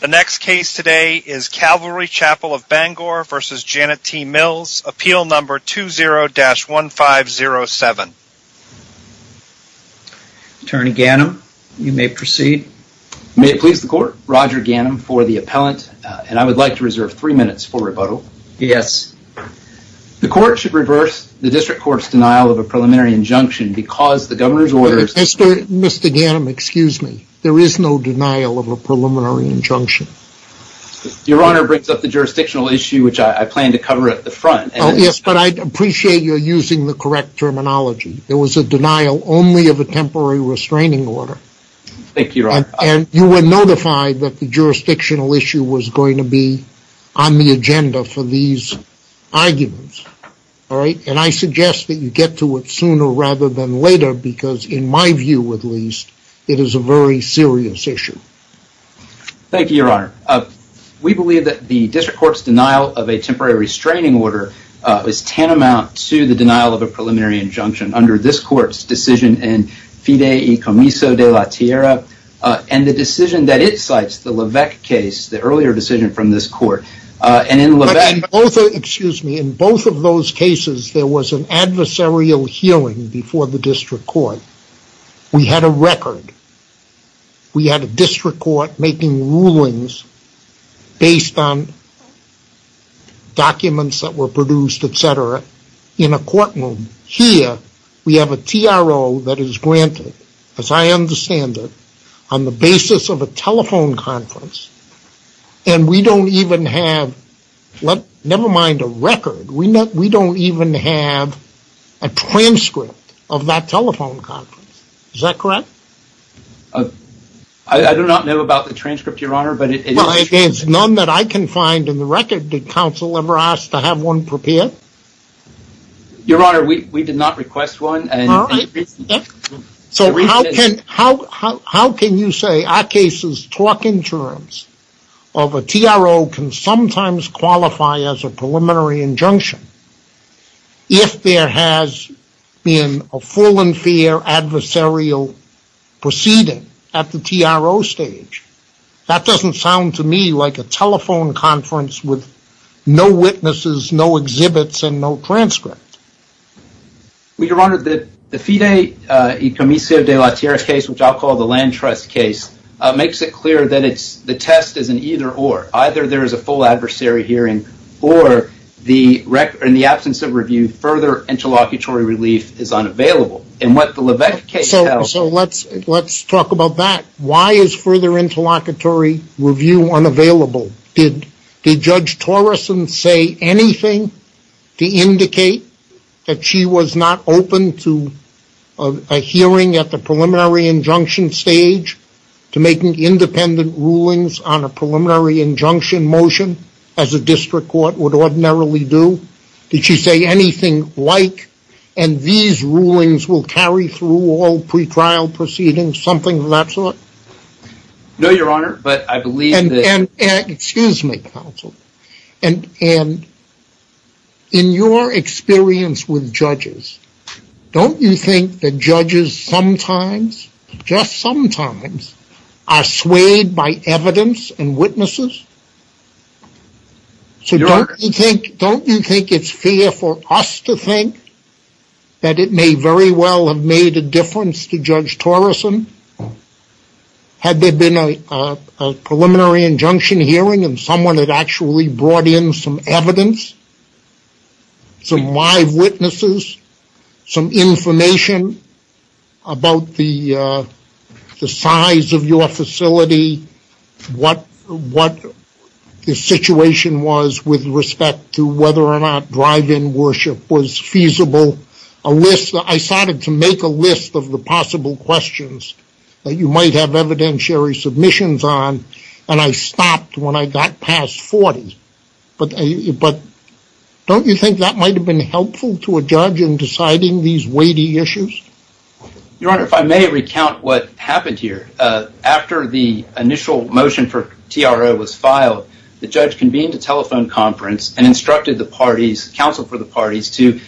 The next case today is Calvary Chapel of Bangor v. Janet T. Mills, appeal number 20-1507. Attorney Ganim, you may proceed. May it please the court, Roger Ganim for the appellant, and I would like to reserve three minutes for rebuttal. Yes. The court should reverse the district court's denial of a preliminary injunction because the governor's orders- Mr. Ganim, excuse me. There is no denial of a preliminary injunction. Your Honor, it brings up the jurisdictional issue, which I plan to cover at the front. Yes, but I'd appreciate your using the correct terminology. There was a denial only of a temporary restraining order. Thank you, Your Honor. And you were notified that the jurisdictional issue was going to be on the agenda for these arguments, all right? And I suggest that you get to it sooner rather than later because, in my view at least, it is a very serious issue. Thank you, Your Honor. We believe that the district court's denial of a temporary restraining order is tantamount to the denial of a preliminary injunction under this court's decision in Fidei Comiso della Tierra and the decision that it cites, the Levesque case, the earlier decision from this court. But in both of those cases, there was an adversarial hearing before the district court. We had a record. We had a district court making rulings based on documents that were produced, et cetera, in a courtroom. Here, we have a TRO that is granted, as I understand it, on the basis of a telephone conference. And we don't even have, never mind a record, we don't even have a transcript of that telephone conference. Is that correct? I do not know about the transcript, Your Honor, but it is true. Well, there's none that I can find in the record. Did counsel ever ask to have one prepared? Your Honor, we did not request one. So how can you say our case's talking terms of a TRO can sometimes qualify as a preliminary injunction if there has been a full and fair adversarial proceeding at the TRO stage? That doesn't sound to me like a telephone conference with no witnesses, no exhibits, and no transcript. Well, Your Honor, the FIDE e commisio de la tierra case, which I'll call the land trust case, makes it clear that the test is an either or. Either there is a full adversary hearing, or in the absence of review, further interlocutory relief is unavailable. And what the Levesque case tells- So let's talk about that. Why is further interlocutory review unavailable? Did Judge Torreson say anything to indicate that she was not open to a hearing at the preliminary injunction stage to make independent rulings on a preliminary injunction motion as a district court would ordinarily do? Did she say anything like, and these rulings will carry through all pretrial proceedings, something of that sort? No, Your Honor, but I believe that- And, excuse me, counsel, and in your experience with judges, don't you think that judges sometimes, just sometimes, are swayed by evidence and witnesses? So don't you think it's fair for us to think that it may very well have made a difference to Judge Torreson? Had there been a preliminary injunction hearing and someone had actually brought in some evidence, some live witnesses, some information about the size of your facility, what the situation was with respect to whether or not drive-in worship was feasible, a list- I started to make a list of the possible questions that you might have evidentiary submissions on, and I stopped when I got past 40, but don't you think that might have been helpful to a judge in deciding these weighty issues? Your Honor, if I may recount what happened here. After the initial motion for TRO was filed, the judge convened a telephone conference and instructed the parties, counsel for the parties, to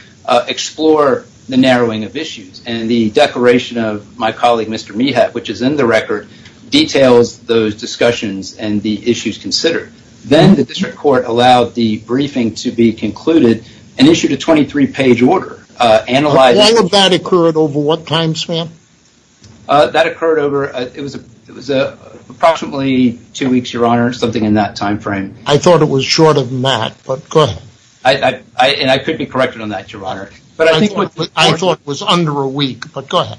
explore the narrowing of issues, and the declaration of my colleague, Mr. Mehat, which is in the record, details those discussions and the issues considered. Then the district court allowed the briefing to be concluded and issued a 23-page order analyzing- Why would that occur at over what time span? That occurred over, it was approximately two weeks, Your Honor, something in that time frame. I thought it was shorter than that, but go ahead. I could be corrected on that, Your Honor. I thought it was under a week, but go ahead.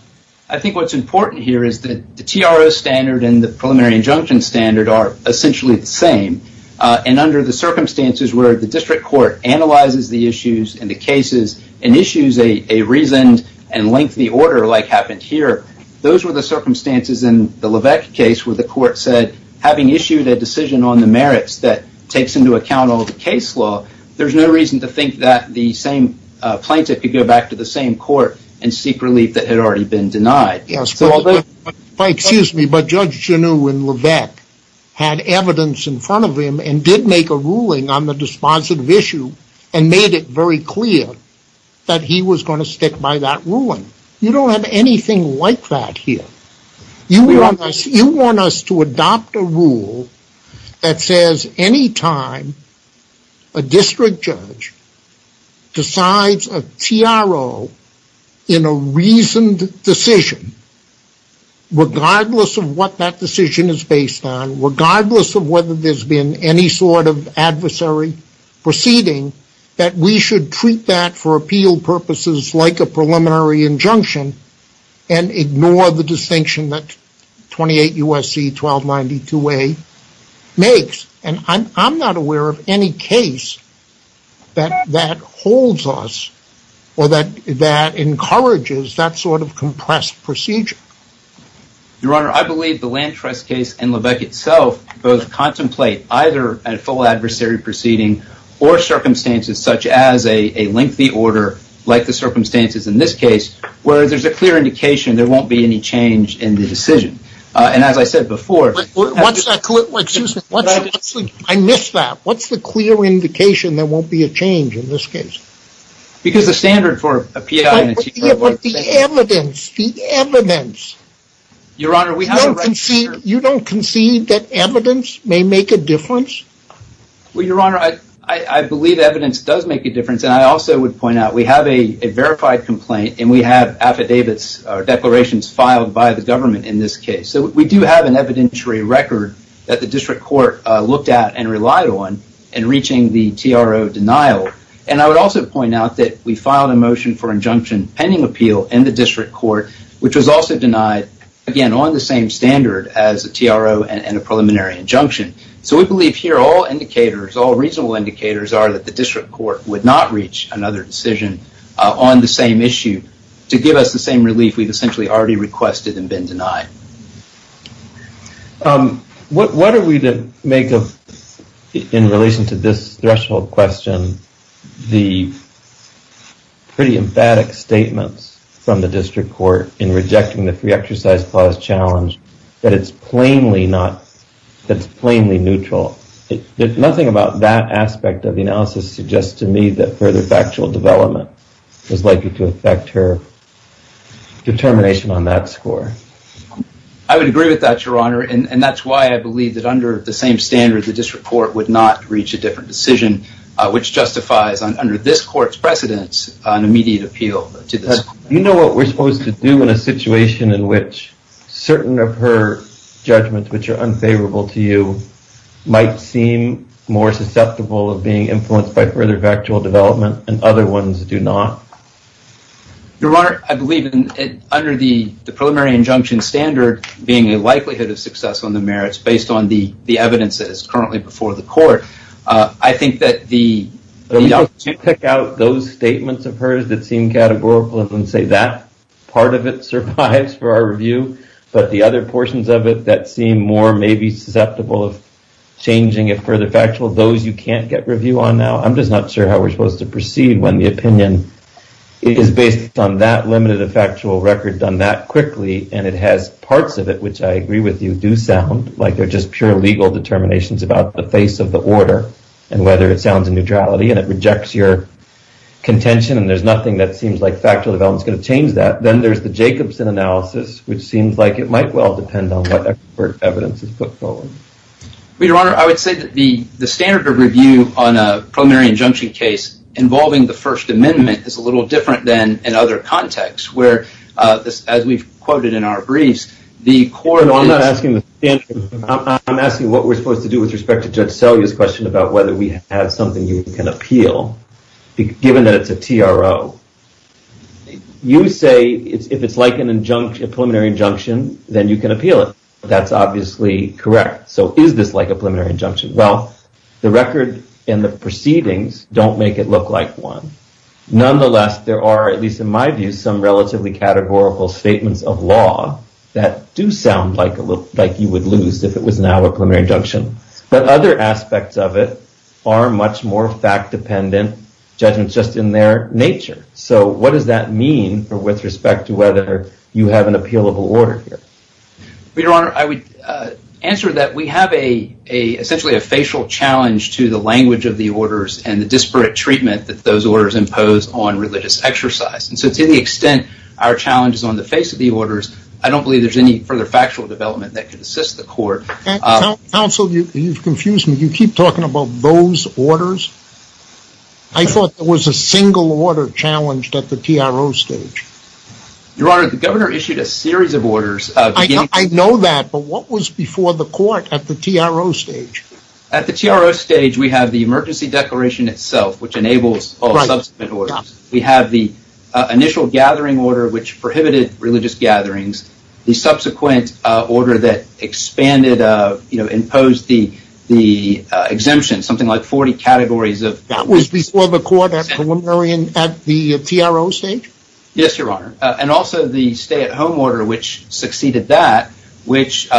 I think what's important here is that the TRO standard and the preliminary injunction standard are essentially the same, and under the circumstances where the district court analyzes the issues and the cases and issues a reasoned and lengthy order like happened here, those were the circumstances in the Levesque case where the court said, having issued a decision on the merits that takes into account all the case law, there's no reason to think that the same plaintiff could go back to the same court and seek relief that had already been denied. Yes. Excuse me, but Judge Genoux in Levesque had evidence in front of him and did make a ruling on the dispositive issue and made it very clear that he was going to stick by that ruling. You don't have anything like that here. You want us to adopt a rule that says any time a district judge decides a TRO in a reasoned decision, regardless of what that decision is based on, regardless of whether there's been any sort of adversary proceeding, that we should treat that for appeal purposes like a preliminary injunction and ignore the distinction that 28 U.S.C. 1292A makes. And I'm not aware of any case that holds us or that encourages that sort of compressed procedure. Your Honor, I believe the Land Trust case and Levesque itself both contemplate either a full adversary proceeding or circumstances such as a lengthy order, like the circumstances in this case, where there's a clear indication there won't be any change in the decision. And as I said before... Excuse me. I missed that. What's the clear indication there won't be a change in this case? Because the standard for appeal in a TRO is... Your Honor, we have a right to... You don't concede that evidence may make a difference? Well, Your Honor, I believe evidence does make a difference, and I also would point out we have a verified complaint and we have affidavits or declarations filed by the government in this case. So we do have an evidentiary record that the district court looked at and relied on in reaching the TRO denial. And I would also point out that we filed a motion for injunction pending appeal in the as a TRO and a preliminary injunction. So we believe here all indicators, all reasonable indicators are that the district court would not reach another decision on the same issue to give us the same relief we've essentially already requested and been denied. What are we to make of, in relation to this threshold question, the pretty emphatic statements from the district court in rejecting the free exercise clause challenge that it's plainly not... That it's plainly neutral. Nothing about that aspect of the analysis suggests to me that further factual development is likely to affect her determination on that score. I would agree with that, Your Honor, and that's why I believe that under the same standard, the district court would not reach a different decision, which justifies under this court's precedence an immediate appeal to this court. You know what we're supposed to do in a situation in which certain of her judgments, which are unfavorable to you, might seem more susceptible of being influenced by further factual development and other ones do not? Your Honor, I believe under the preliminary injunction standard being a likelihood of success on the merits based on the evidence that is currently before the court, I think that the... You pick out those statements of hers that seem categorical and say that part of it survives for our review, but the other portions of it that seem more maybe susceptible of changing it further factual, those you can't get review on now, I'm just not sure how we're supposed to proceed when the opinion is based on that limited of factual record done that quickly, and it has parts of it, which I agree with you, do sound like they're just pure legal determinations about the face of the order, and whether it sounds in neutrality, and it rejects your contention, and there's nothing that seems like factual development's going to change that. Then there's the Jacobson analysis, which seems like it might well depend on what expert evidence is put forward. Your Honor, I would say that the standard of review on a preliminary injunction case involving the First Amendment is a little different than in other contexts, where, as we've quoted in our briefs, the court is... What we're supposed to do with respect to Judge Selye's question about whether we have something you can appeal, given that it's a TRO, you say if it's like a preliminary injunction, then you can appeal it. That's obviously correct. So is this like a preliminary injunction? Well, the record and the proceedings don't make it look like one. Nonetheless, there are, at least in my view, some relatively categorical statements of a preliminary injunction, but other aspects of it are much more fact-dependent judgments just in their nature. So what does that mean with respect to whether you have an appealable order here? Your Honor, I would answer that we have essentially a facial challenge to the language of the orders and the disparate treatment that those orders impose on religious exercise. And so to the extent our challenge is on the face of the orders, I don't believe there's any further factual development that could assist the court. Counsel, you've confused me. You keep talking about those orders. I thought there was a single order challenged at the TRO stage. Your Honor, the Governor issued a series of orders beginning... I know that, but what was before the court at the TRO stage? At the TRO stage, we have the emergency declaration itself, which enables all subsequent orders. We have the initial gathering order, which prohibited religious gatherings. The subsequent order that expanded, you know, imposed the exemption, something like 40 categories of... That was before the court at the TRO stage? Yes, Your Honor. And also the stay-at-home order, which succeeded that, which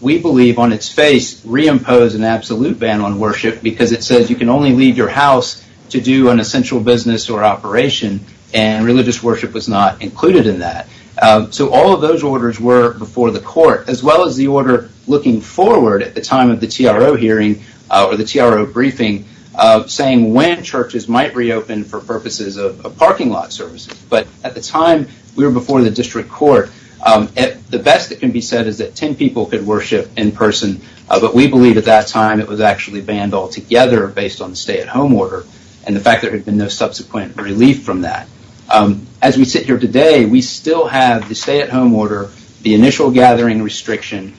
we believe on its face reimposed an absolute ban on worship because it says you can only leave your house to do an essential business or operation, and religious worship was not included in that. So all of those orders were before the court, as well as the order looking forward at the time of the TRO hearing, or the TRO briefing, saying when churches might reopen for purposes of parking lot services. But at the time, we were before the district court. The best that can be said is that 10 people could worship in person, but we believe at that time it was actually banned altogether based on the stay-at-home order. And the fact that there had been no subsequent relief from that. As we sit here today, we still have the stay-at-home order, the initial gathering restriction.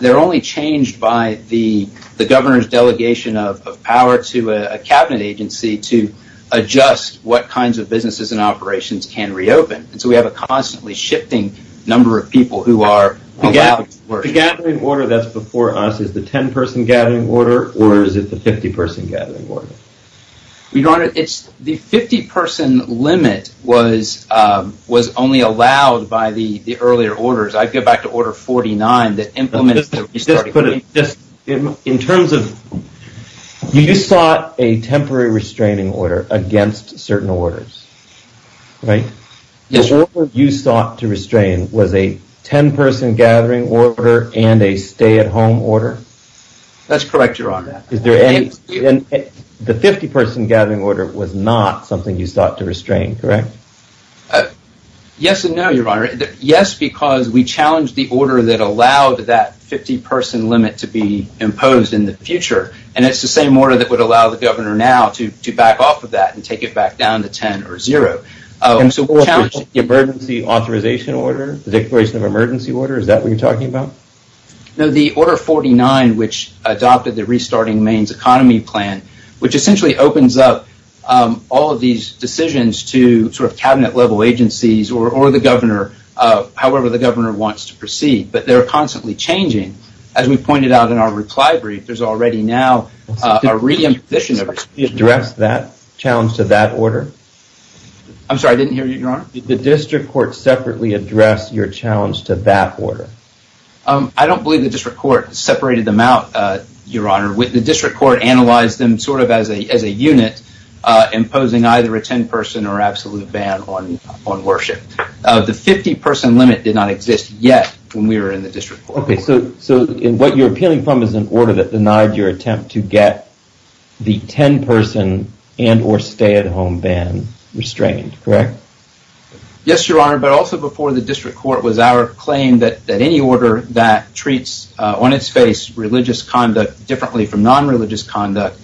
They're only changed by the governor's delegation of power to a cabinet agency to adjust what kinds of businesses and operations can reopen. And so we have a constantly shifting number of people who are allowed to worship. The gathering order that's before us, is the 10-person gathering order, or is it the 50-person gathering order? Your Honor, it's the 50-person limit was only allowed by the earlier orders. I'd go back to Order 49 that implements the restarting. In terms of, you sought a temporary restraining order against certain orders, right? The order you sought to restrain was a 10-person gathering order and a stay-at-home order? That's correct, Your Honor. Is there any, the 50-person gathering order was not something you sought to restrain, correct? Yes and no, Your Honor. Yes, because we challenged the order that allowed that 50-person limit to be imposed in the future. And it's the same order that would allow the governor now to back off of that and take it back down to 10 or zero. And so, the emergency authorization order, the declaration of emergency order, is that what you're talking about? No, the Order 49, which adopted the Restarting Maine's Economy Plan, which essentially opens up all of these decisions to sort of cabinet-level agencies or the governor, however the governor wants to proceed. But they're constantly changing. As we pointed out in our reply brief, there's already now a re-imposition of responsibility. Did you address that challenge to that order? I'm sorry, I didn't hear you, Your Honor. Did the district court separately address your challenge to that order? I don't believe the district court separated them out, Your Honor. The district court analyzed them sort of as a unit, imposing either a 10-person or absolute ban on worship. The 50-person limit did not exist yet when we were in the district court. Okay, so what you're appealing from is an order that denied your attempt to get the 10-person and or stay-at-home ban restrained, correct? Yes, Your Honor, but also before the district court was our claim that any order that treats on its face religious conduct differently from non-religious conduct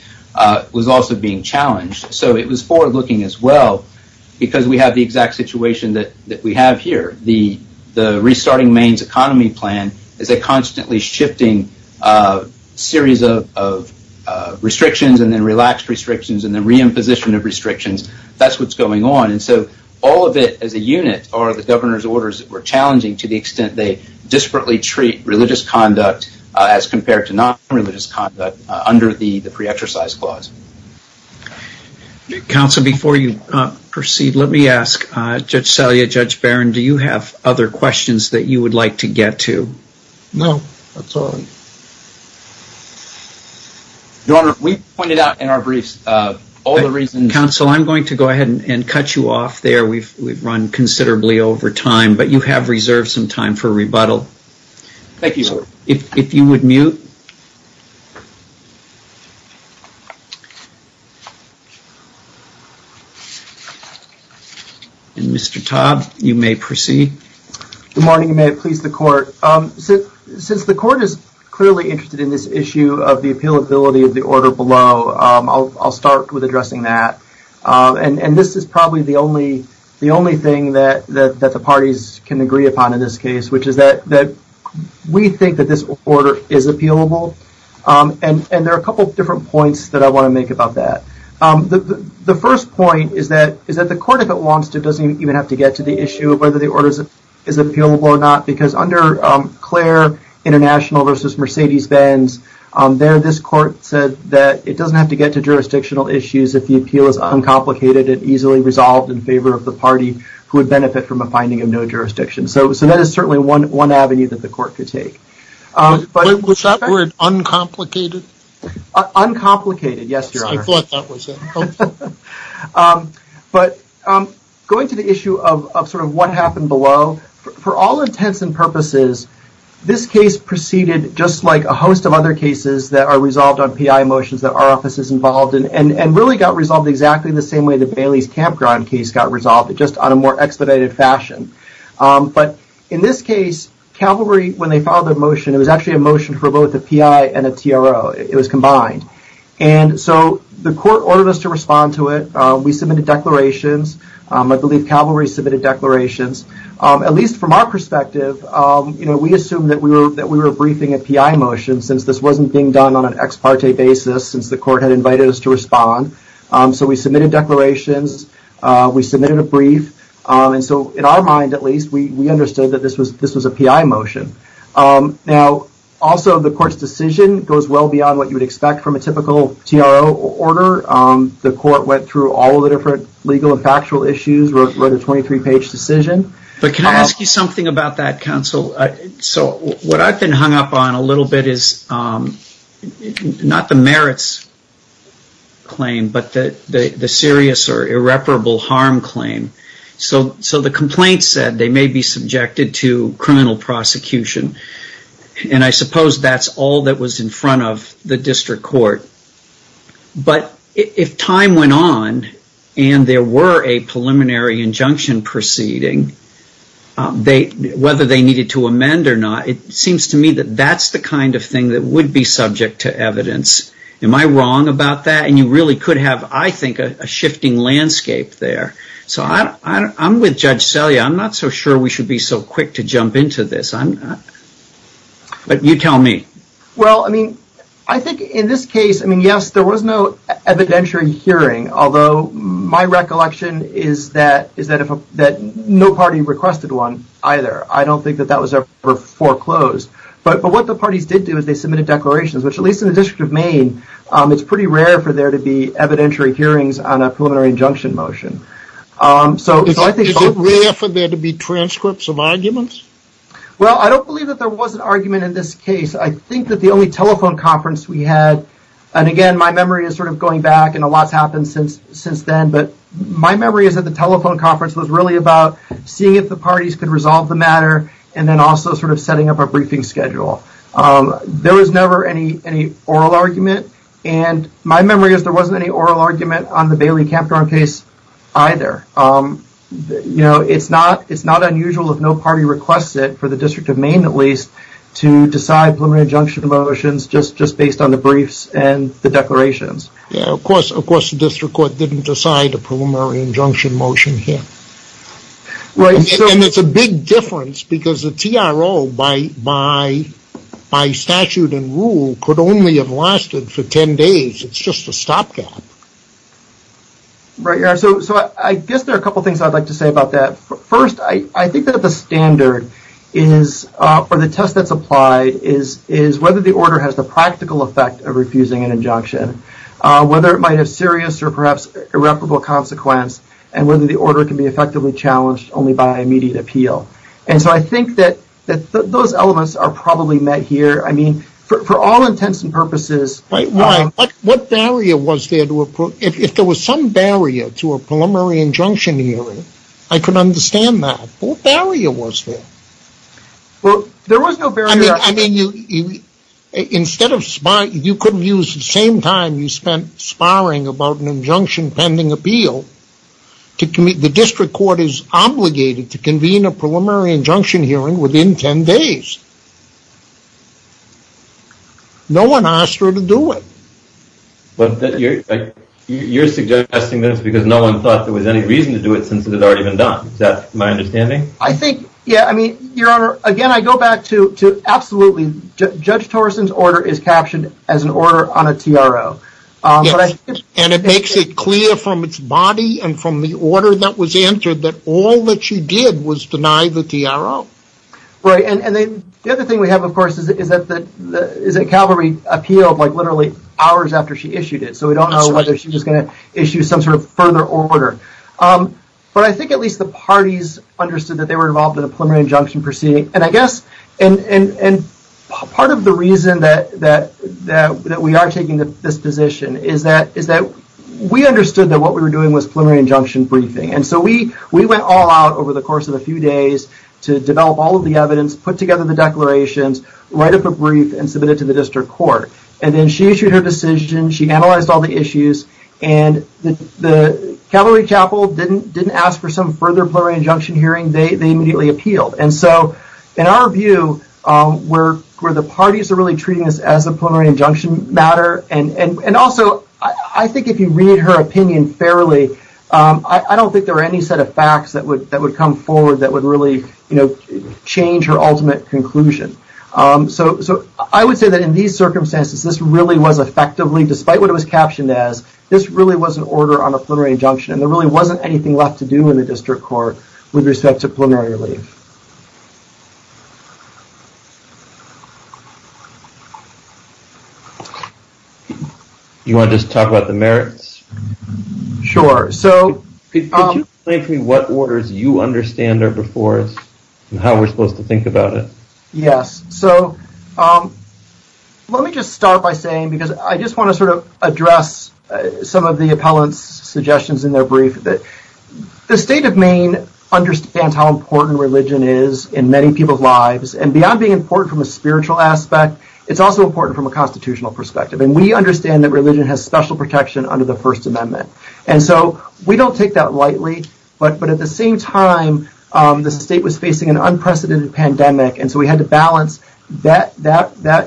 was also being challenged. So it was forward-looking as well because we have the exact situation that we have here. The Restarting Maine's Economy Plan is a constantly shifting series of restrictions and then relaxed restrictions and then re-imposition of restrictions. That's what's going on. All of it as a unit are the governor's orders that were challenging to the extent they disparately treat religious conduct as compared to non-religious conduct under the Pre-Exercise Clause. Counsel, before you proceed, let me ask Judge Salia, Judge Barron, do you have other questions that you would like to get to? No, that's all. Your Honor, we pointed out in our briefs all the reasons. Counsel, I'm going to go ahead and cut you off there. We've run considerably over time, but you have reserved some time for rebuttal. Thank you, Your Honor. If you would mute. And Mr. Todd, you may proceed. Good morning. May it please the court. Since the court is clearly interested in this issue of the appealability of the order below, I'll start with addressing that. And this is probably the only thing that the parties can agree upon in this case, which is that we think that this order is appealable. And there are a couple of different points that I want to make about that. The first point is that the court, if it wants to, doesn't even have to get to the issue of whether the order is appealable or not. Because under Claire International versus Mercedes-Benz, there this court said that it doesn't have to get to jurisdictional issues if the appeal is uncomplicated and easily resolved in favor of the party who would benefit from a finding of no jurisdiction. So that is certainly one avenue that the court could take. Was that word uncomplicated? Uncomplicated, yes, Your Honor. I thought that was it. But going to the issue of sort of what happened below, for all intents and purposes, this and really got resolved exactly the same way that Bailey's campground case got resolved, just on a more expedited fashion. But in this case, Calvary, when they filed their motion, it was actually a motion for both a PI and a TRO. It was combined. And so the court ordered us to respond to it. We submitted declarations. I believe Calvary submitted declarations. At least from our perspective, we assumed that we were briefing a PI motion since this court had invited us to respond. So we submitted declarations. We submitted a brief. And so in our mind, at least, we understood that this was a PI motion. Now, also, the court's decision goes well beyond what you would expect from a typical TRO order. The court went through all of the different legal and factual issues, wrote a 23-page decision. But can I ask you something about that, counsel? So what I've been hung up on a little bit is not the merits claim, but the serious or irreparable harm claim. So the complaint said they may be subjected to criminal prosecution. And I suppose that's all that was in front of the district court. But if time went on and there were a preliminary injunction proceeding, whether they needed to amend or not, it seems to me that that's the kind of thing that would be subject to evidence. Am I wrong about that? And you really could have, I think, a shifting landscape there. So I'm with Judge Selye. I'm not so sure we should be so quick to jump into this. But you tell me. Well, I mean, I think in this case, I mean, yes, there was no evidentiary hearing. Although my recollection is that no party requested one either. I don't think that that was ever foreclosed. But what the parties did do is they submitted declarations, which at least in the District of Maine, it's pretty rare for there to be evidentiary hearings on a preliminary injunction motion. Is it rare for there to be transcripts of arguments? Well, I don't believe that there was an argument in this case. I think that the only telephone conference we had, and again, my memory is sort of going back, and a lot's happened since then, but my memory is that the telephone conference was sort of setting up the matter and then also sort of setting up a briefing schedule. There was never any oral argument. And my memory is there wasn't any oral argument on the Bailey-Campdorn case either. You know, it's not unusual if no party requested, for the District of Maine at least, to decide preliminary injunction motions just based on the briefs and the declarations. Yeah, of course the District Court didn't decide a preliminary injunction motion here. And it's a big difference because the TRO, by statute and rule, could only have lasted for 10 days. It's just a stopgap. Right, yeah. So I guess there are a couple things I'd like to say about that. First, I think that the standard is, or the test that's applied, is whether the order has the practical effect of refusing an injunction, whether it might have irreparable consequence, and whether the order can be effectively challenged only by immediate appeal. And so I think that those elements are probably met here. I mean, for all intents and purposes. Right, why? What barrier was there to approach? If there was some barrier to a preliminary injunction hearing, I could understand that. What barrier was there? Well, there was no barrier. I mean, instead of sparring, you couldn't use the same time you spent sparring about an injunction pending appeal. The District Court is obligated to convene a preliminary injunction hearing within 10 days. No one asked her to do it. But you're suggesting that it's because no one thought there was any reason to do it since it had already been done. Is that my understanding? I think, yeah, I mean, Your Honor, again, I go back to absolutely. Judge Torrison's order is captioned as an order on a TRO. Yes, and it makes it clear from its body and from the order that was entered that all that she did was deny the TRO. Right, and then the other thing we have, of course, is that Calvary appealed like literally hours after she issued it. That's right. So we don't know whether she was going to issue some sort of further order. But I think at least the parties understood that they were involved in a preliminary injunction proceeding, and I guess part of the reason that we are taking this position is that we understood that what we were doing was preliminary injunction briefing. And so we went all out over the course of a few days to develop all of the evidence, put together the declarations, write up a brief, and submit it to the District Court. And then she issued her decision, she analyzed all the issues, and the preliminary capital didn't ask for some further preliminary injunction hearing, they immediately appealed. And so in our view, where the parties are really treating this as a preliminary injunction matter, and also I think if you read her opinion fairly, I don't think there are any set of facts that would come forward that would really change her ultimate conclusion. So I would say that in these circumstances, this really was effectively, there really wasn't anything left to do in the District Court with respect to preliminary relief. You want to just talk about the merits? Sure. Could you explain to me what orders you understand are before us and how we're supposed to think about it? Yes. So let me just start by saying, because I just want to sort of address some of the appellant's suggestions in their brief, that the state of Maine understands how important religion is in many people's lives, and beyond being important from a spiritual aspect, it's also important from a constitutional perspective. And we understand that religion has special protection under the First Amendment. And so we don't take that lightly, but at the same time, the state was facing an unprecedented pandemic, and so we had to balance that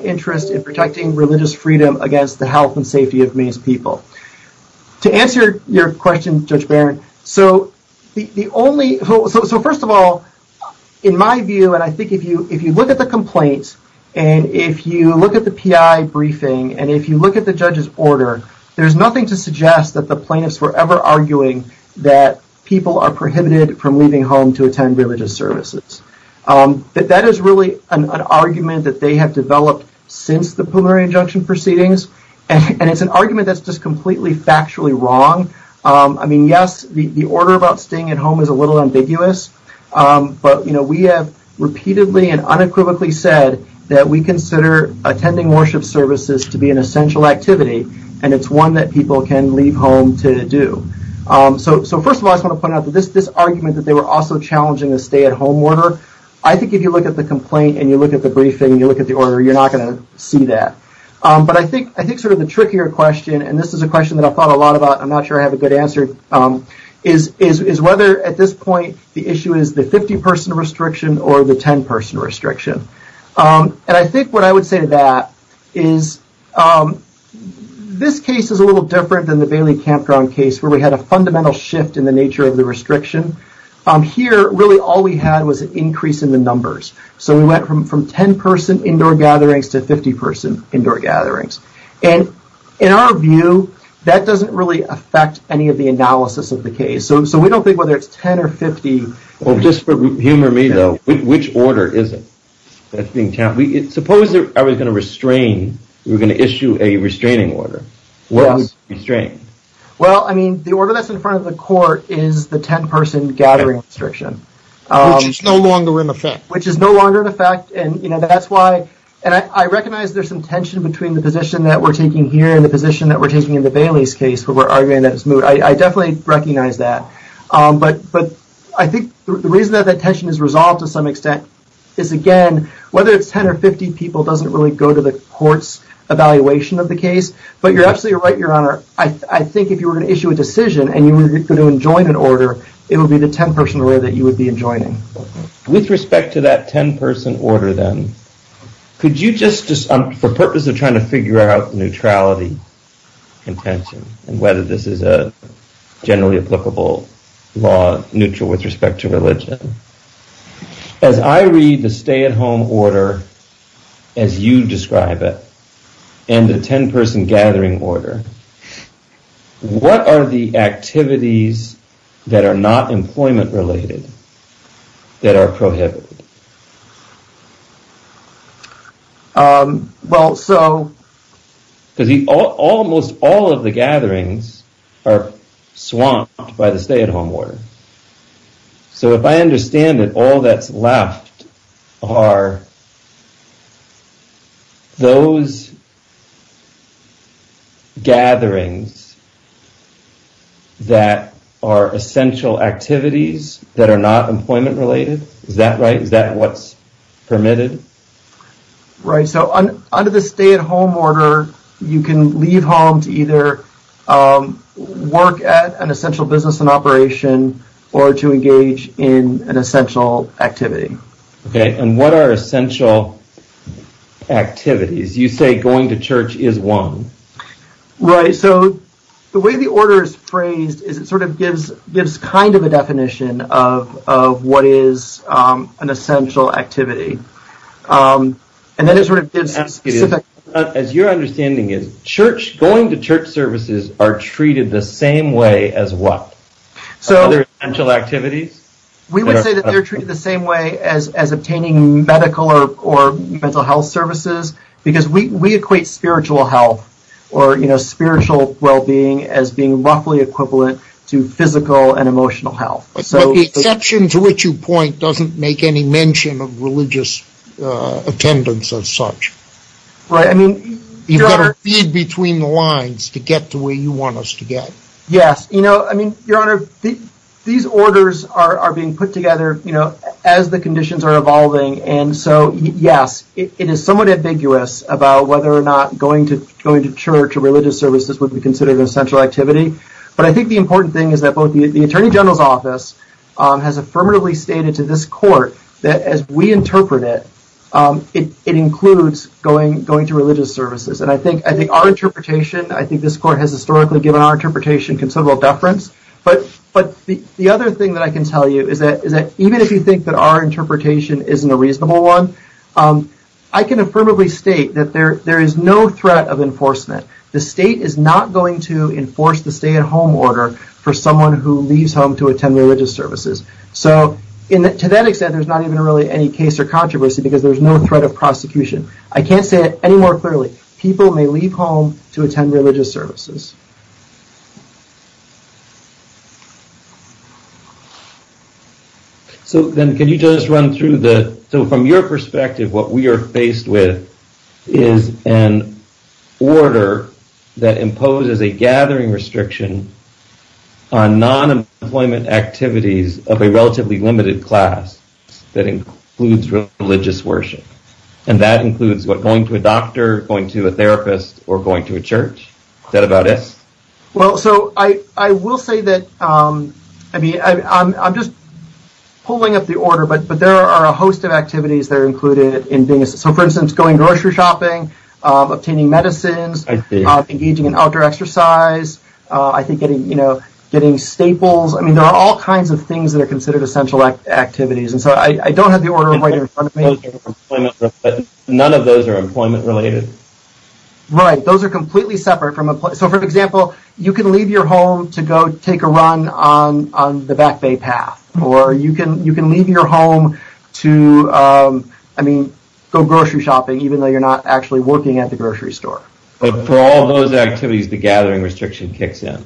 interest in protecting religious freedom against the health and safety of Maine's people. To answer your question, Judge Barron, so the only, so first of all, in my view, and I think if you look at the complaints, and if you look at the PI briefing, and if you look at the judge's order, there's nothing to suggest that the plaintiffs were ever arguing that people are prohibited from leaving home to attend religious services. But that is really an argument that they have developed since the preliminary injunction proceedings, and it's an argument that's just completely factually wrong. I mean, yes, the order about staying at home is a little ambiguous, but we have repeatedly and unequivocally said that we consider attending worship services to be an essential activity, and it's one that people can leave home to do. So first of all, I just want to point out that this argument that they were also challenging a stay-at-home order, I think if you look at the complaint, and you look at the briefing, and you look at the order, you're not going to see that. But I think sort of the trickier question, and this is a question that I thought a lot about, and I'm not sure I have a good answer, is whether at this point the issue is the 50-person restriction or the 10-person restriction. And I think what I would say to that is this case is a little different than the Bailey Campground case, where we had a fundamental shift in the nature of the restriction. Here, really all we had was an increase in the numbers. So we went from 10-person indoor gatherings to 50-person indoor gatherings. And in our view, that doesn't really affect any of the analysis of the case. So we don't think whether it's 10 or 50. Well, just for humor me, though, which order is it? Suppose I was going to restrain, we were going to issue a restraining order. What would you restrain? Well, I mean, the order that's in front of the court is the 10-person gathering restriction. Which is no longer in effect. Which is no longer in effect. And I recognize there's some tension between the position that we're taking here and the position that we're taking in the Bailey's case, where we're arguing that it's moot. I definitely recognize that. But I think the reason that that tension is resolved to some extent is, again, the case. But you're absolutely right, Your Honor. I think if you were going to issue a decision and you were going to enjoin an order, it would be the 10-person order that you would be enjoining. With respect to that 10-person order, then, could you just, for purpose of trying to figure out neutrality and tension and whether this is a generally applicable law neutral with respect to religion, as I read the stay-at-home order as you describe it, and the 10-person gathering order, what are the activities that are not employment-related that are prohibited? Well, so... Because almost all of the gatherings are swamped by the stay-at-home order. So if I understand it, all that's left are those gatherings that are essential activities that are not employment-related. Is that right? Is that what's permitted? Right. So under the stay-at-home order, you can leave home to either work at an essential business and operation or to engage in an essential activity. Okay. And what are essential activities? You say going to church is one. Right. So the way the order is phrased is it sort of gives kind of a definition of what is an essential activity. And then it sort of gives specific... As your understanding is, church, going to church services are treated the same way as what? Other essential activities? We would say that they're treated the same way as obtaining medical or mental health services, because we equate spiritual health or spiritual well-being as being roughly equivalent to physical and emotional health. But the exception to which you point doesn't make any mention of religious attendance as such. Right. I mean, you've got to feed between the lines to get to where you want us to get. Yes. You know, I mean, Your Honor, these orders are being put together, you know, as the conditions are evolving. And so, yes, it is somewhat ambiguous about whether or not going to church or religious services would be considered an essential activity. But I think the important thing is that both the Attorney General's Office has affirmatively stated to this court that as we interpret it, it includes going to religious services. And I think our interpretation, I think this court has historically given our interpretation considerable deference. But the other thing that I can tell you is that even if you think that our interpretation isn't a reasonable one, I can affirmatively state that there is no threat of enforcement. The state is not going to enforce the stay-at-home order for someone who leaves home to attend religious services. So to that extent, there's not even really any case or controversy because there's no threat of prosecution. I can't say it any more clearly. People may leave home to attend religious services. So then can you just run through the – so from your perspective, what we are faced with is an order that imposes a gathering restriction on non-employment activities of a relatively limited class that includes religious worship. And that includes going to a doctor, going to a therapist, or going to a church. Is that about it? Well, so I will say that – I mean, I'm just pulling up the order, but there are a host of activities that are included. So for instance, going grocery shopping, obtaining medicines, engaging in outdoor exercise, I think getting staples. I mean, there are all kinds of things that are considered essential activities. And so I don't have the order right in front of me. None of those are employment-related? Right. Those are completely separate from – so for example, you can leave your home to go take a run on the Back Bay Path, or you can leave your home to, I mean, go grocery shopping even though you're not actually working at the grocery store. But for all those activities, the gathering restriction kicks in.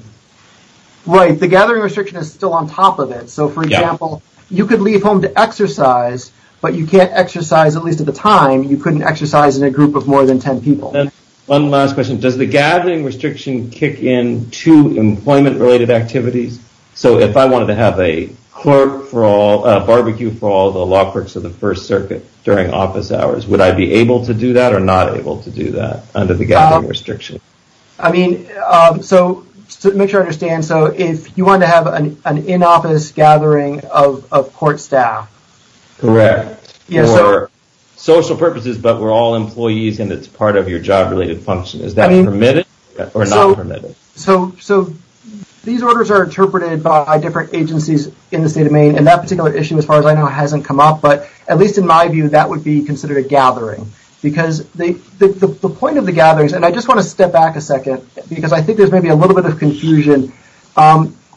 Right. The gathering restriction is still on top of it. So for example, you could leave home to exercise, but you can't exercise, at least at the time. You couldn't exercise in a group of more than 10 people. And one last question. Does the gathering restriction kick in to employment-related activities? So if I wanted to have a barbecue for all the law clerks of the First Circuit during office hours, would I be able to do that or not able to do that under the gathering restriction? I mean, so to make sure I understand, so if you wanted to have an in-office gathering of court staff. Correct. For social purposes, but we're all employees and it's part of your job-related function. Is that permitted or not permitted? So these orders are interpreted by different agencies in the state of Maine, and that particular issue, as far as I know, hasn't come up. But at least in my view, that would be considered a gathering. Because the point of the gatherings – and I just want to step back a second because I think there's maybe a little bit of confusion.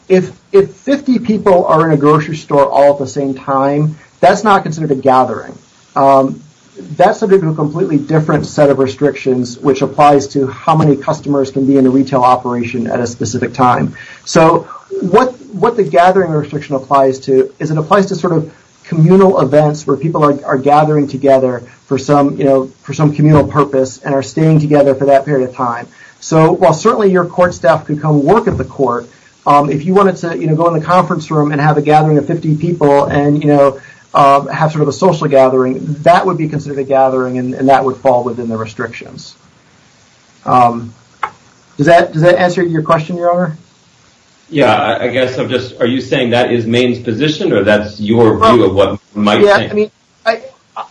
If 50 people are in a grocery store all at the same time, that's not considered a gathering. That's a completely different set of restrictions, which applies to how many customers can be in a retail operation at a specific time. So what the gathering restriction applies to is it applies to sort of communal events where people are gathering together for some communal purpose and are staying together for that period of time. So while certainly your court staff could come work at the court, if you wanted to go in the conference room and have a gathering of 50 people and have sort of a social gathering, that would be considered a gathering and that would fall within the restrictions. Does that answer your question, Your Honor? Yeah, I guess I'm just – are you saying that is Maine's position or that's your view of what Mike's saying?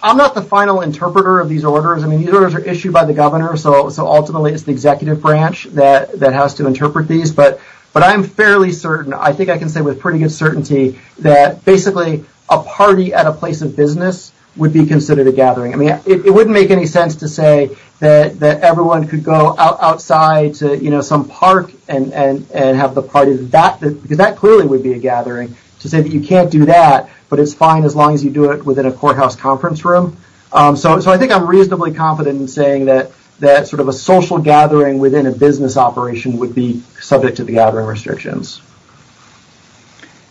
I'm not the final interpreter of these orders. I mean, these orders are issued by the governor, so ultimately it's the executive branch that has to interpret these. But I'm fairly certain, I think I can say with pretty good certainty, that basically a party at a place of business would be considered a gathering. I mean, it wouldn't make any sense to say that everyone could go outside to some park and have the party, because that clearly would be a gathering, to say that you can't do that, but it's fine as long as you do it within a courthouse conference room. So I think I'm reasonably confident in saying that sort of a social gathering within a business operation would be subject to the gathering restrictions.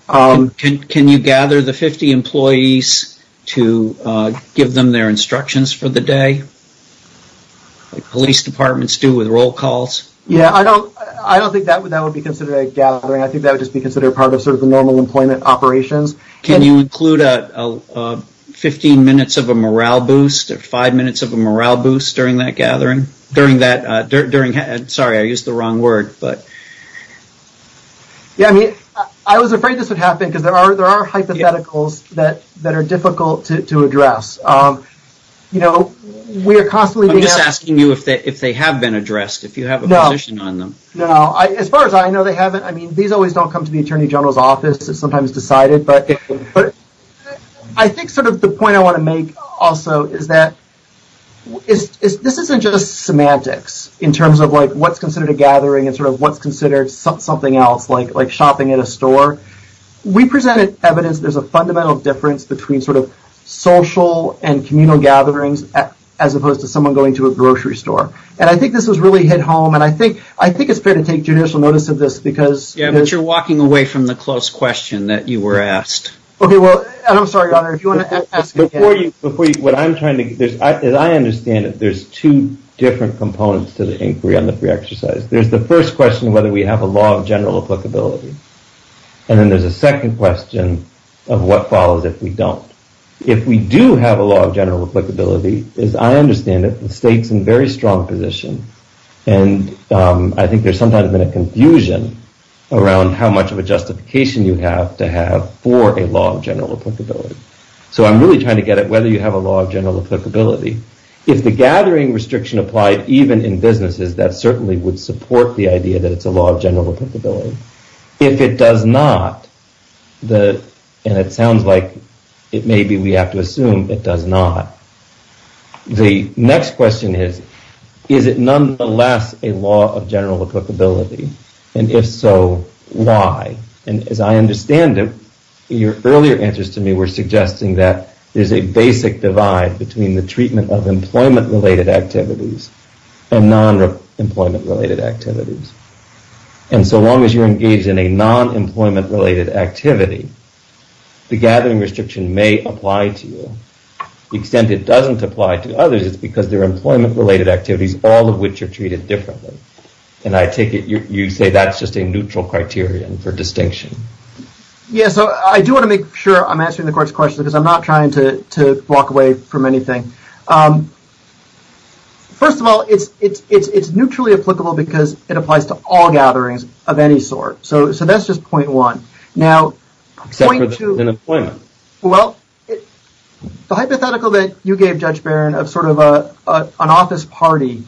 Can you gather the 50 employees to give them their instructions for the day, like police departments do with roll calls? Yeah, I don't think that would be considered a gathering. I think that would just be considered part of sort of the normal employment operations. Can you include 15 minutes of a morale boost, or five minutes of a morale boost during that gathering? Sorry, I used the wrong word. Yeah, I mean, I was afraid this would happen, because there are hypotheticals that are difficult to address. I'm just asking you if they have been addressed, if you have a position on them. No, as far as I know, they haven't. I mean, these always don't come to the Attorney General's office. It's sometimes decided. But I think sort of the point I want to make also is that this isn't just semantics in terms of like what's considered a gathering and sort of what's considered something else, like shopping at a store. We presented evidence there's a fundamental difference between sort of social and communal gatherings as opposed to someone going to a grocery store. And I think this was really hit home, and I think it's fair to take judicial notice of this, because Yeah, but you're walking away from the close question that you were asked. Okay, well, I'm sorry, Your Honor, if you want to ask again Before you, what I'm trying to, as I understand it, there's two different components to the inquiry on the free exercise. There's the first question of whether we have a law of general applicability. And then there's a second question of what follows if we don't. If we do have a law of general applicability, as I understand it, the state's in a very strong position. And I think there's sometimes been a confusion around how much of a justification you have to have for a law of general applicability. So I'm really trying to get at whether you have a law of general applicability. If the gathering restriction applied even in businesses, that certainly would support the idea that it's a law of general applicability. If it does not, and it sounds like it may be we have to assume it does not. The next question is, is it nonetheless a law of general applicability? And if so, why? And as I understand it, your earlier answers to me were suggesting that there's a basic divide between the treatment of employment-related activities and non-employment-related activities. And so long as you're engaged in a non-employment-related activity, the reason it doesn't apply to others is because they're employment-related activities, all of which are treated differently. And I take it you say that's just a neutral criterion for distinction. Yeah, so I do want to make sure I'm answering the court's question because I'm not trying to walk away from anything. First of all, it's neutrally applicable because it applies to all gatherings of any sort. So that's just point one. Now, point two. Except for employment. Well, the hypothetical that you gave, Judge Barron, of sort of an office party,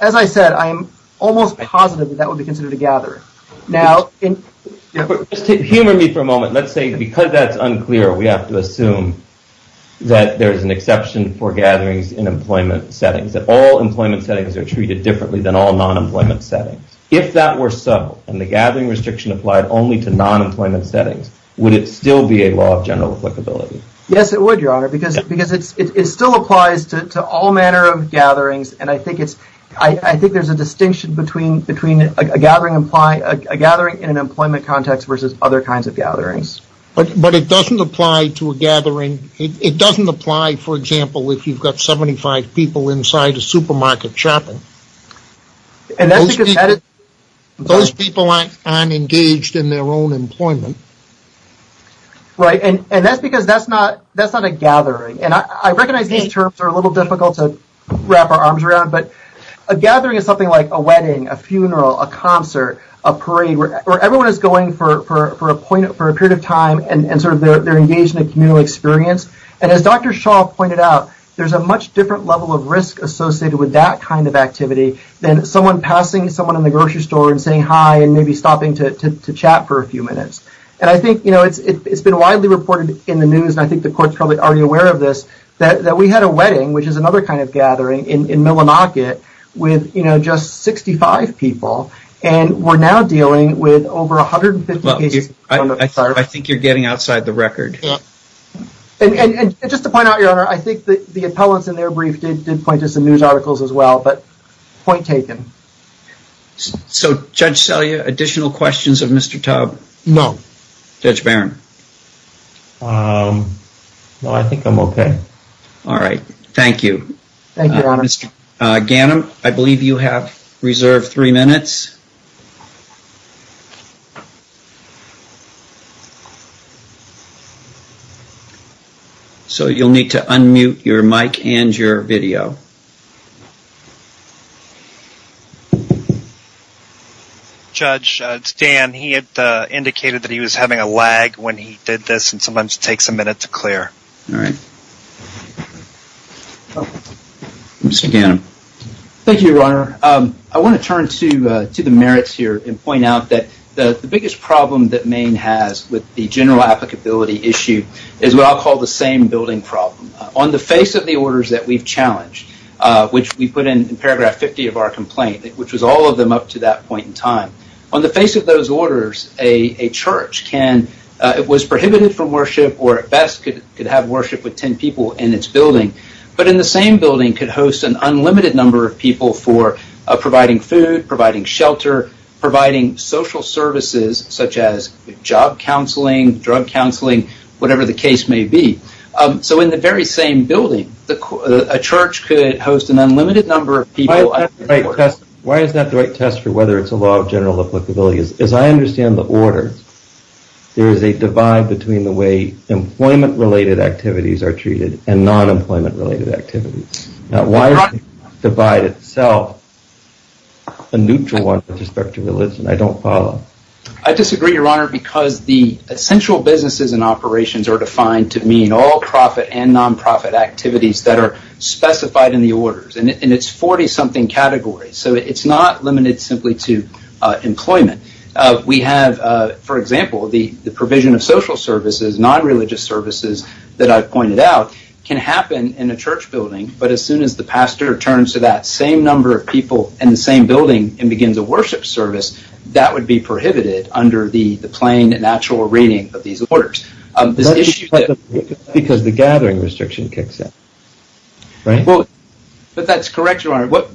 as I said, I'm almost positive that that would be considered a gathering. Humor me for a moment. Let's say because that's unclear, we have to assume that there's an exception for gatherings in employment settings, that all employment settings are treated differently than all non-employment settings. If that were so and the gathering restriction applied only to general applicability. Yes, it would, Your Honor, because it still applies to all manner of gatherings, and I think there's a distinction between a gathering in an employment context versus other kinds of gatherings. But it doesn't apply to a gathering. It doesn't apply, for example, if you've got 75 people inside a supermarket shopping. Those people aren't engaged in their own employment. Right, and that's because that's not a gathering. And I recognize these terms are a little difficult to wrap our arms around, but a gathering is something like a wedding, a funeral, a concert, a parade, where everyone is going for a period of time and sort of they're engaged in a communal experience. And as Dr. Shaw pointed out, there's a much different level of risk associated with that kind of activity than someone passing someone in the grocery store and saying hi and maybe stopping to chat for a few minutes. And I think it's been widely reported in the news, and I think the court's probably already aware of this, that we had a wedding, which is another kind of gathering, in Millinocket with just 65 people, and we're now dealing with over 150 cases. I think you're getting outside the record. And just to point out, Your Honor, I think the appellants in their brief did point to some news articles as well, but point taken. So, Judge Selya, additional questions of Mr. Tubb? No. Judge Barron? No, I think I'm okay. All right. Thank you. Thank you, Your Honor. Mr. Ganim, I believe you have reserved three minutes. So you'll need to unmute your mic and your video. Judge, it's Dan. He had indicated that he was having a lag when he did this, and sometimes it takes a minute to clear. All right. Mr. Ganim. Thank you, Your Honor. I want to turn to the merits here and point out that the biggest problem that Maine has with the general applicability issue is what I'll call the same building problem. On the face of the orders that we've challenged, which we put in paragraph 50 of our complaint, which was all of them up to that point in time, on the face of those orders, a church was prohibited from worship or at best could have worship with 10 people in its building, but in the same building could host an unlimited number of people for providing food, providing shelter, providing social services, such as job counseling, drug counseling, whatever the case may be. So in the very same building, a church could host an unlimited number of people. Why is that the right test for whether it's a law of general applicability? As I understand the orders, there is a divide between the way employment-related activities are treated and non-employment-related activities. Now, why is the divide itself a neutral one with respect to religion? I don't follow. I disagree, Your Honor, because the essential businesses and operations are defined to mean all-profit and non-profit activities that are specified in the 40-something category. So it's not limited simply to employment. We have, for example, the provision of social services, non-religious services that I've pointed out can happen in a church building, but as soon as the pastor turns to that same number of people in the same building and begins a worship service, that would be prohibited under the plain and natural reading of these orders. That's because the gathering restriction kicks in, right? But that's correct, Your Honor. What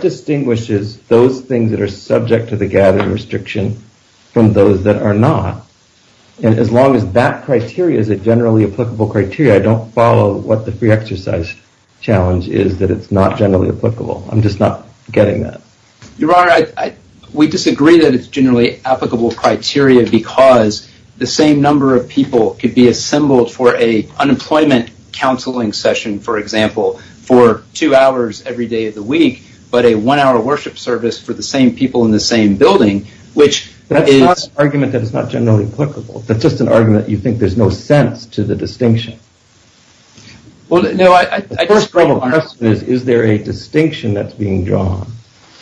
distinguishes those things that are subject to the gathering restriction from those that are not? As long as that criteria is a generally applicable criteria, I don't follow what the free exercise challenge is that it's not generally applicable. I'm just not getting that. Your Honor, we disagree that it's generally applicable criteria because the same number of people could be assembled for an unemployment counseling session, for example, for two hours every day of the week, but a one-hour worship service for the same people in the same building, which is... That's not an argument that it's not generally applicable. That's just an argument that you think there's no sense to the distinction. Well, no, I just... The question is, is there a distinction that's being drawn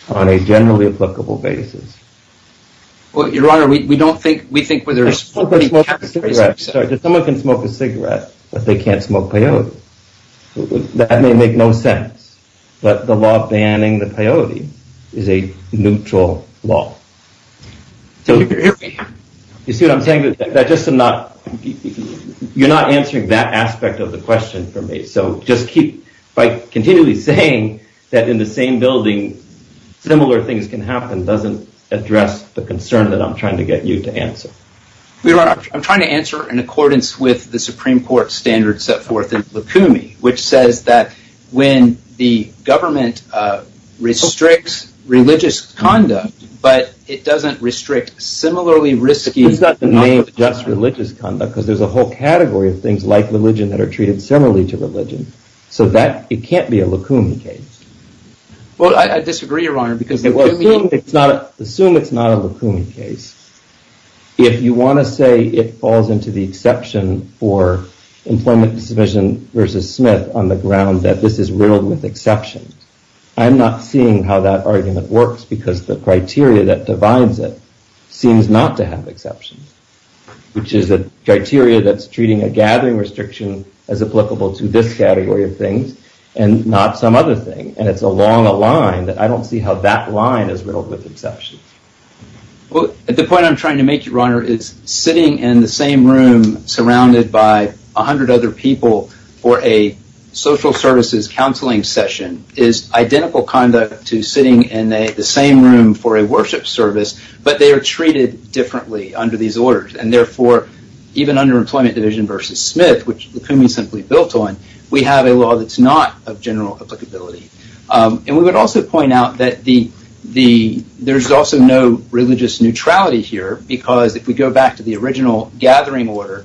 on a generally applicable basis? Well, Your Honor, we don't think, we think whether there's... Someone can smoke a cigarette, but they can't smoke peyote. That may make no sense. But the law banning the peyote is a neutral law. You see what I'm saying? You're not answering that aspect of the question for me. So just keep, by continually saying that in the same building, similar things can happen doesn't address the concern that I'm trying to get you to answer. Your Honor, I'm trying to answer in accordance with the Supreme Court standards set forth in Lukumi, which says that when the government restricts religious conduct, but it doesn't restrict similarly risky... It's not just religious conduct, because there's a whole category of things like religion that are treated similarly to religion. So that, it can't be a Lukumi case. Well, I disagree, Your Honor, because... Assume it's not a Lukumi case. If you want to say it falls into the exception for employment submission versus Smith on the ground that this is riddled with exceptions, I'm not seeing how that argument works, because the criteria that divides it seems not to have exceptions, which is a criteria that's treating a gathering restriction as applicable to this category of things and not some other thing. And it's along a line that I don't see how that line is riddled with exceptions. Well, the point I'm trying to make, Your Honor, is sitting in the same room surrounded by a hundred other people for a social services counseling session is identical conduct to sitting in the same room for a worship service, but they are treated differently under these orders. And therefore, even under employment division versus Smith, which Lukumi is simply built on, we have a law that's not of general applicability. And we would also point out that there's also no religious neutrality here, because if we go back to the original gathering order,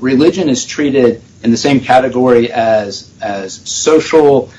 religion is treated in the same category as social,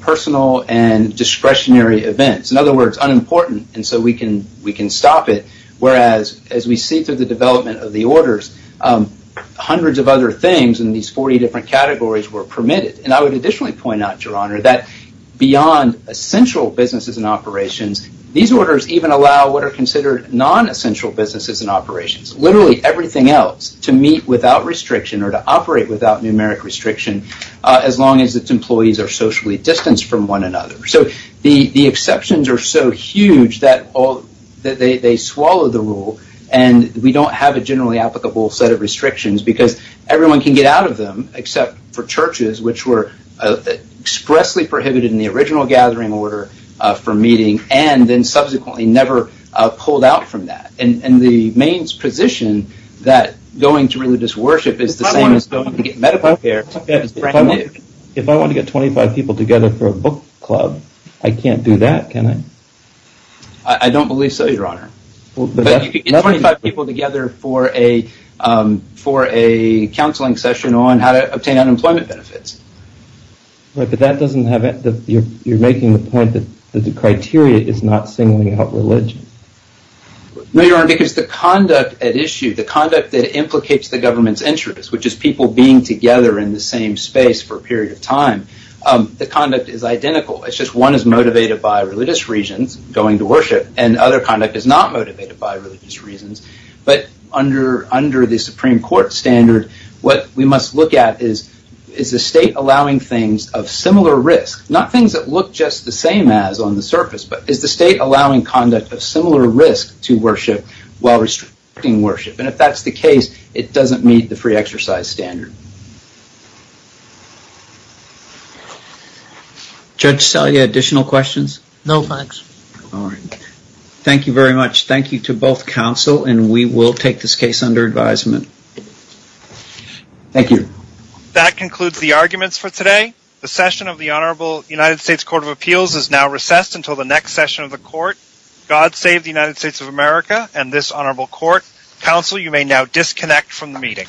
personal, and discretionary events. In other words, unimportant, and so we can stop it. Whereas, as we see through the development of the orders, hundreds of other things in these 40 different categories were permitted. And I would additionally point out, Your Honor, that beyond essential businesses and operations, these orders even allow what are considered non-essential businesses and operations, literally everything else, to meet without restriction or to operate without numeric restriction, as long as its employees are socially distanced from one another. So the exceptions are so huge that they swallow the rule, and we don't have a generally applicable set of restrictions, because everyone can get out of them except for churches, which were expressly prohibited in the original gathering order for meeting, and then subsequently never pulled out from that. And the Maine's position that going to religious worship is the same as going to get medical care is brand new. If I want to get 25 people together for a book club, I can't do that, can I? I don't believe so, Your Honor. But you can get 25 people together for a counseling session on how to obtain unemployment benefits. Right, but that doesn't have it. You're making the point that the criteria is not singling out religion. No, Your Honor, because the conduct at issue, the conduct that implicates the government's interest, which is people being together in the same space for a period of time, the conduct is identical. It's just one is motivated by religious reasons, going to worship, and other conduct is not motivated by religious reasons. But under the Supreme Court standard, what we must look at is, is the state allowing things of similar risk, not things that look just the same as on the surface, but is the state allowing conduct of similar risk to worship while restricting worship? And if that's the case, it doesn't meet the free exercise standard. Judge Selye, additional questions? No, thanks. Thank you very much. Thank you to both counsel, and we will take this case under advisement. Thank you. That concludes the arguments for today. The session of the Honorable United States Court of Appeals is now recessed until the next session of the court. God save the United States of America and this honorable court. Counsel, you may now disconnect from the meeting.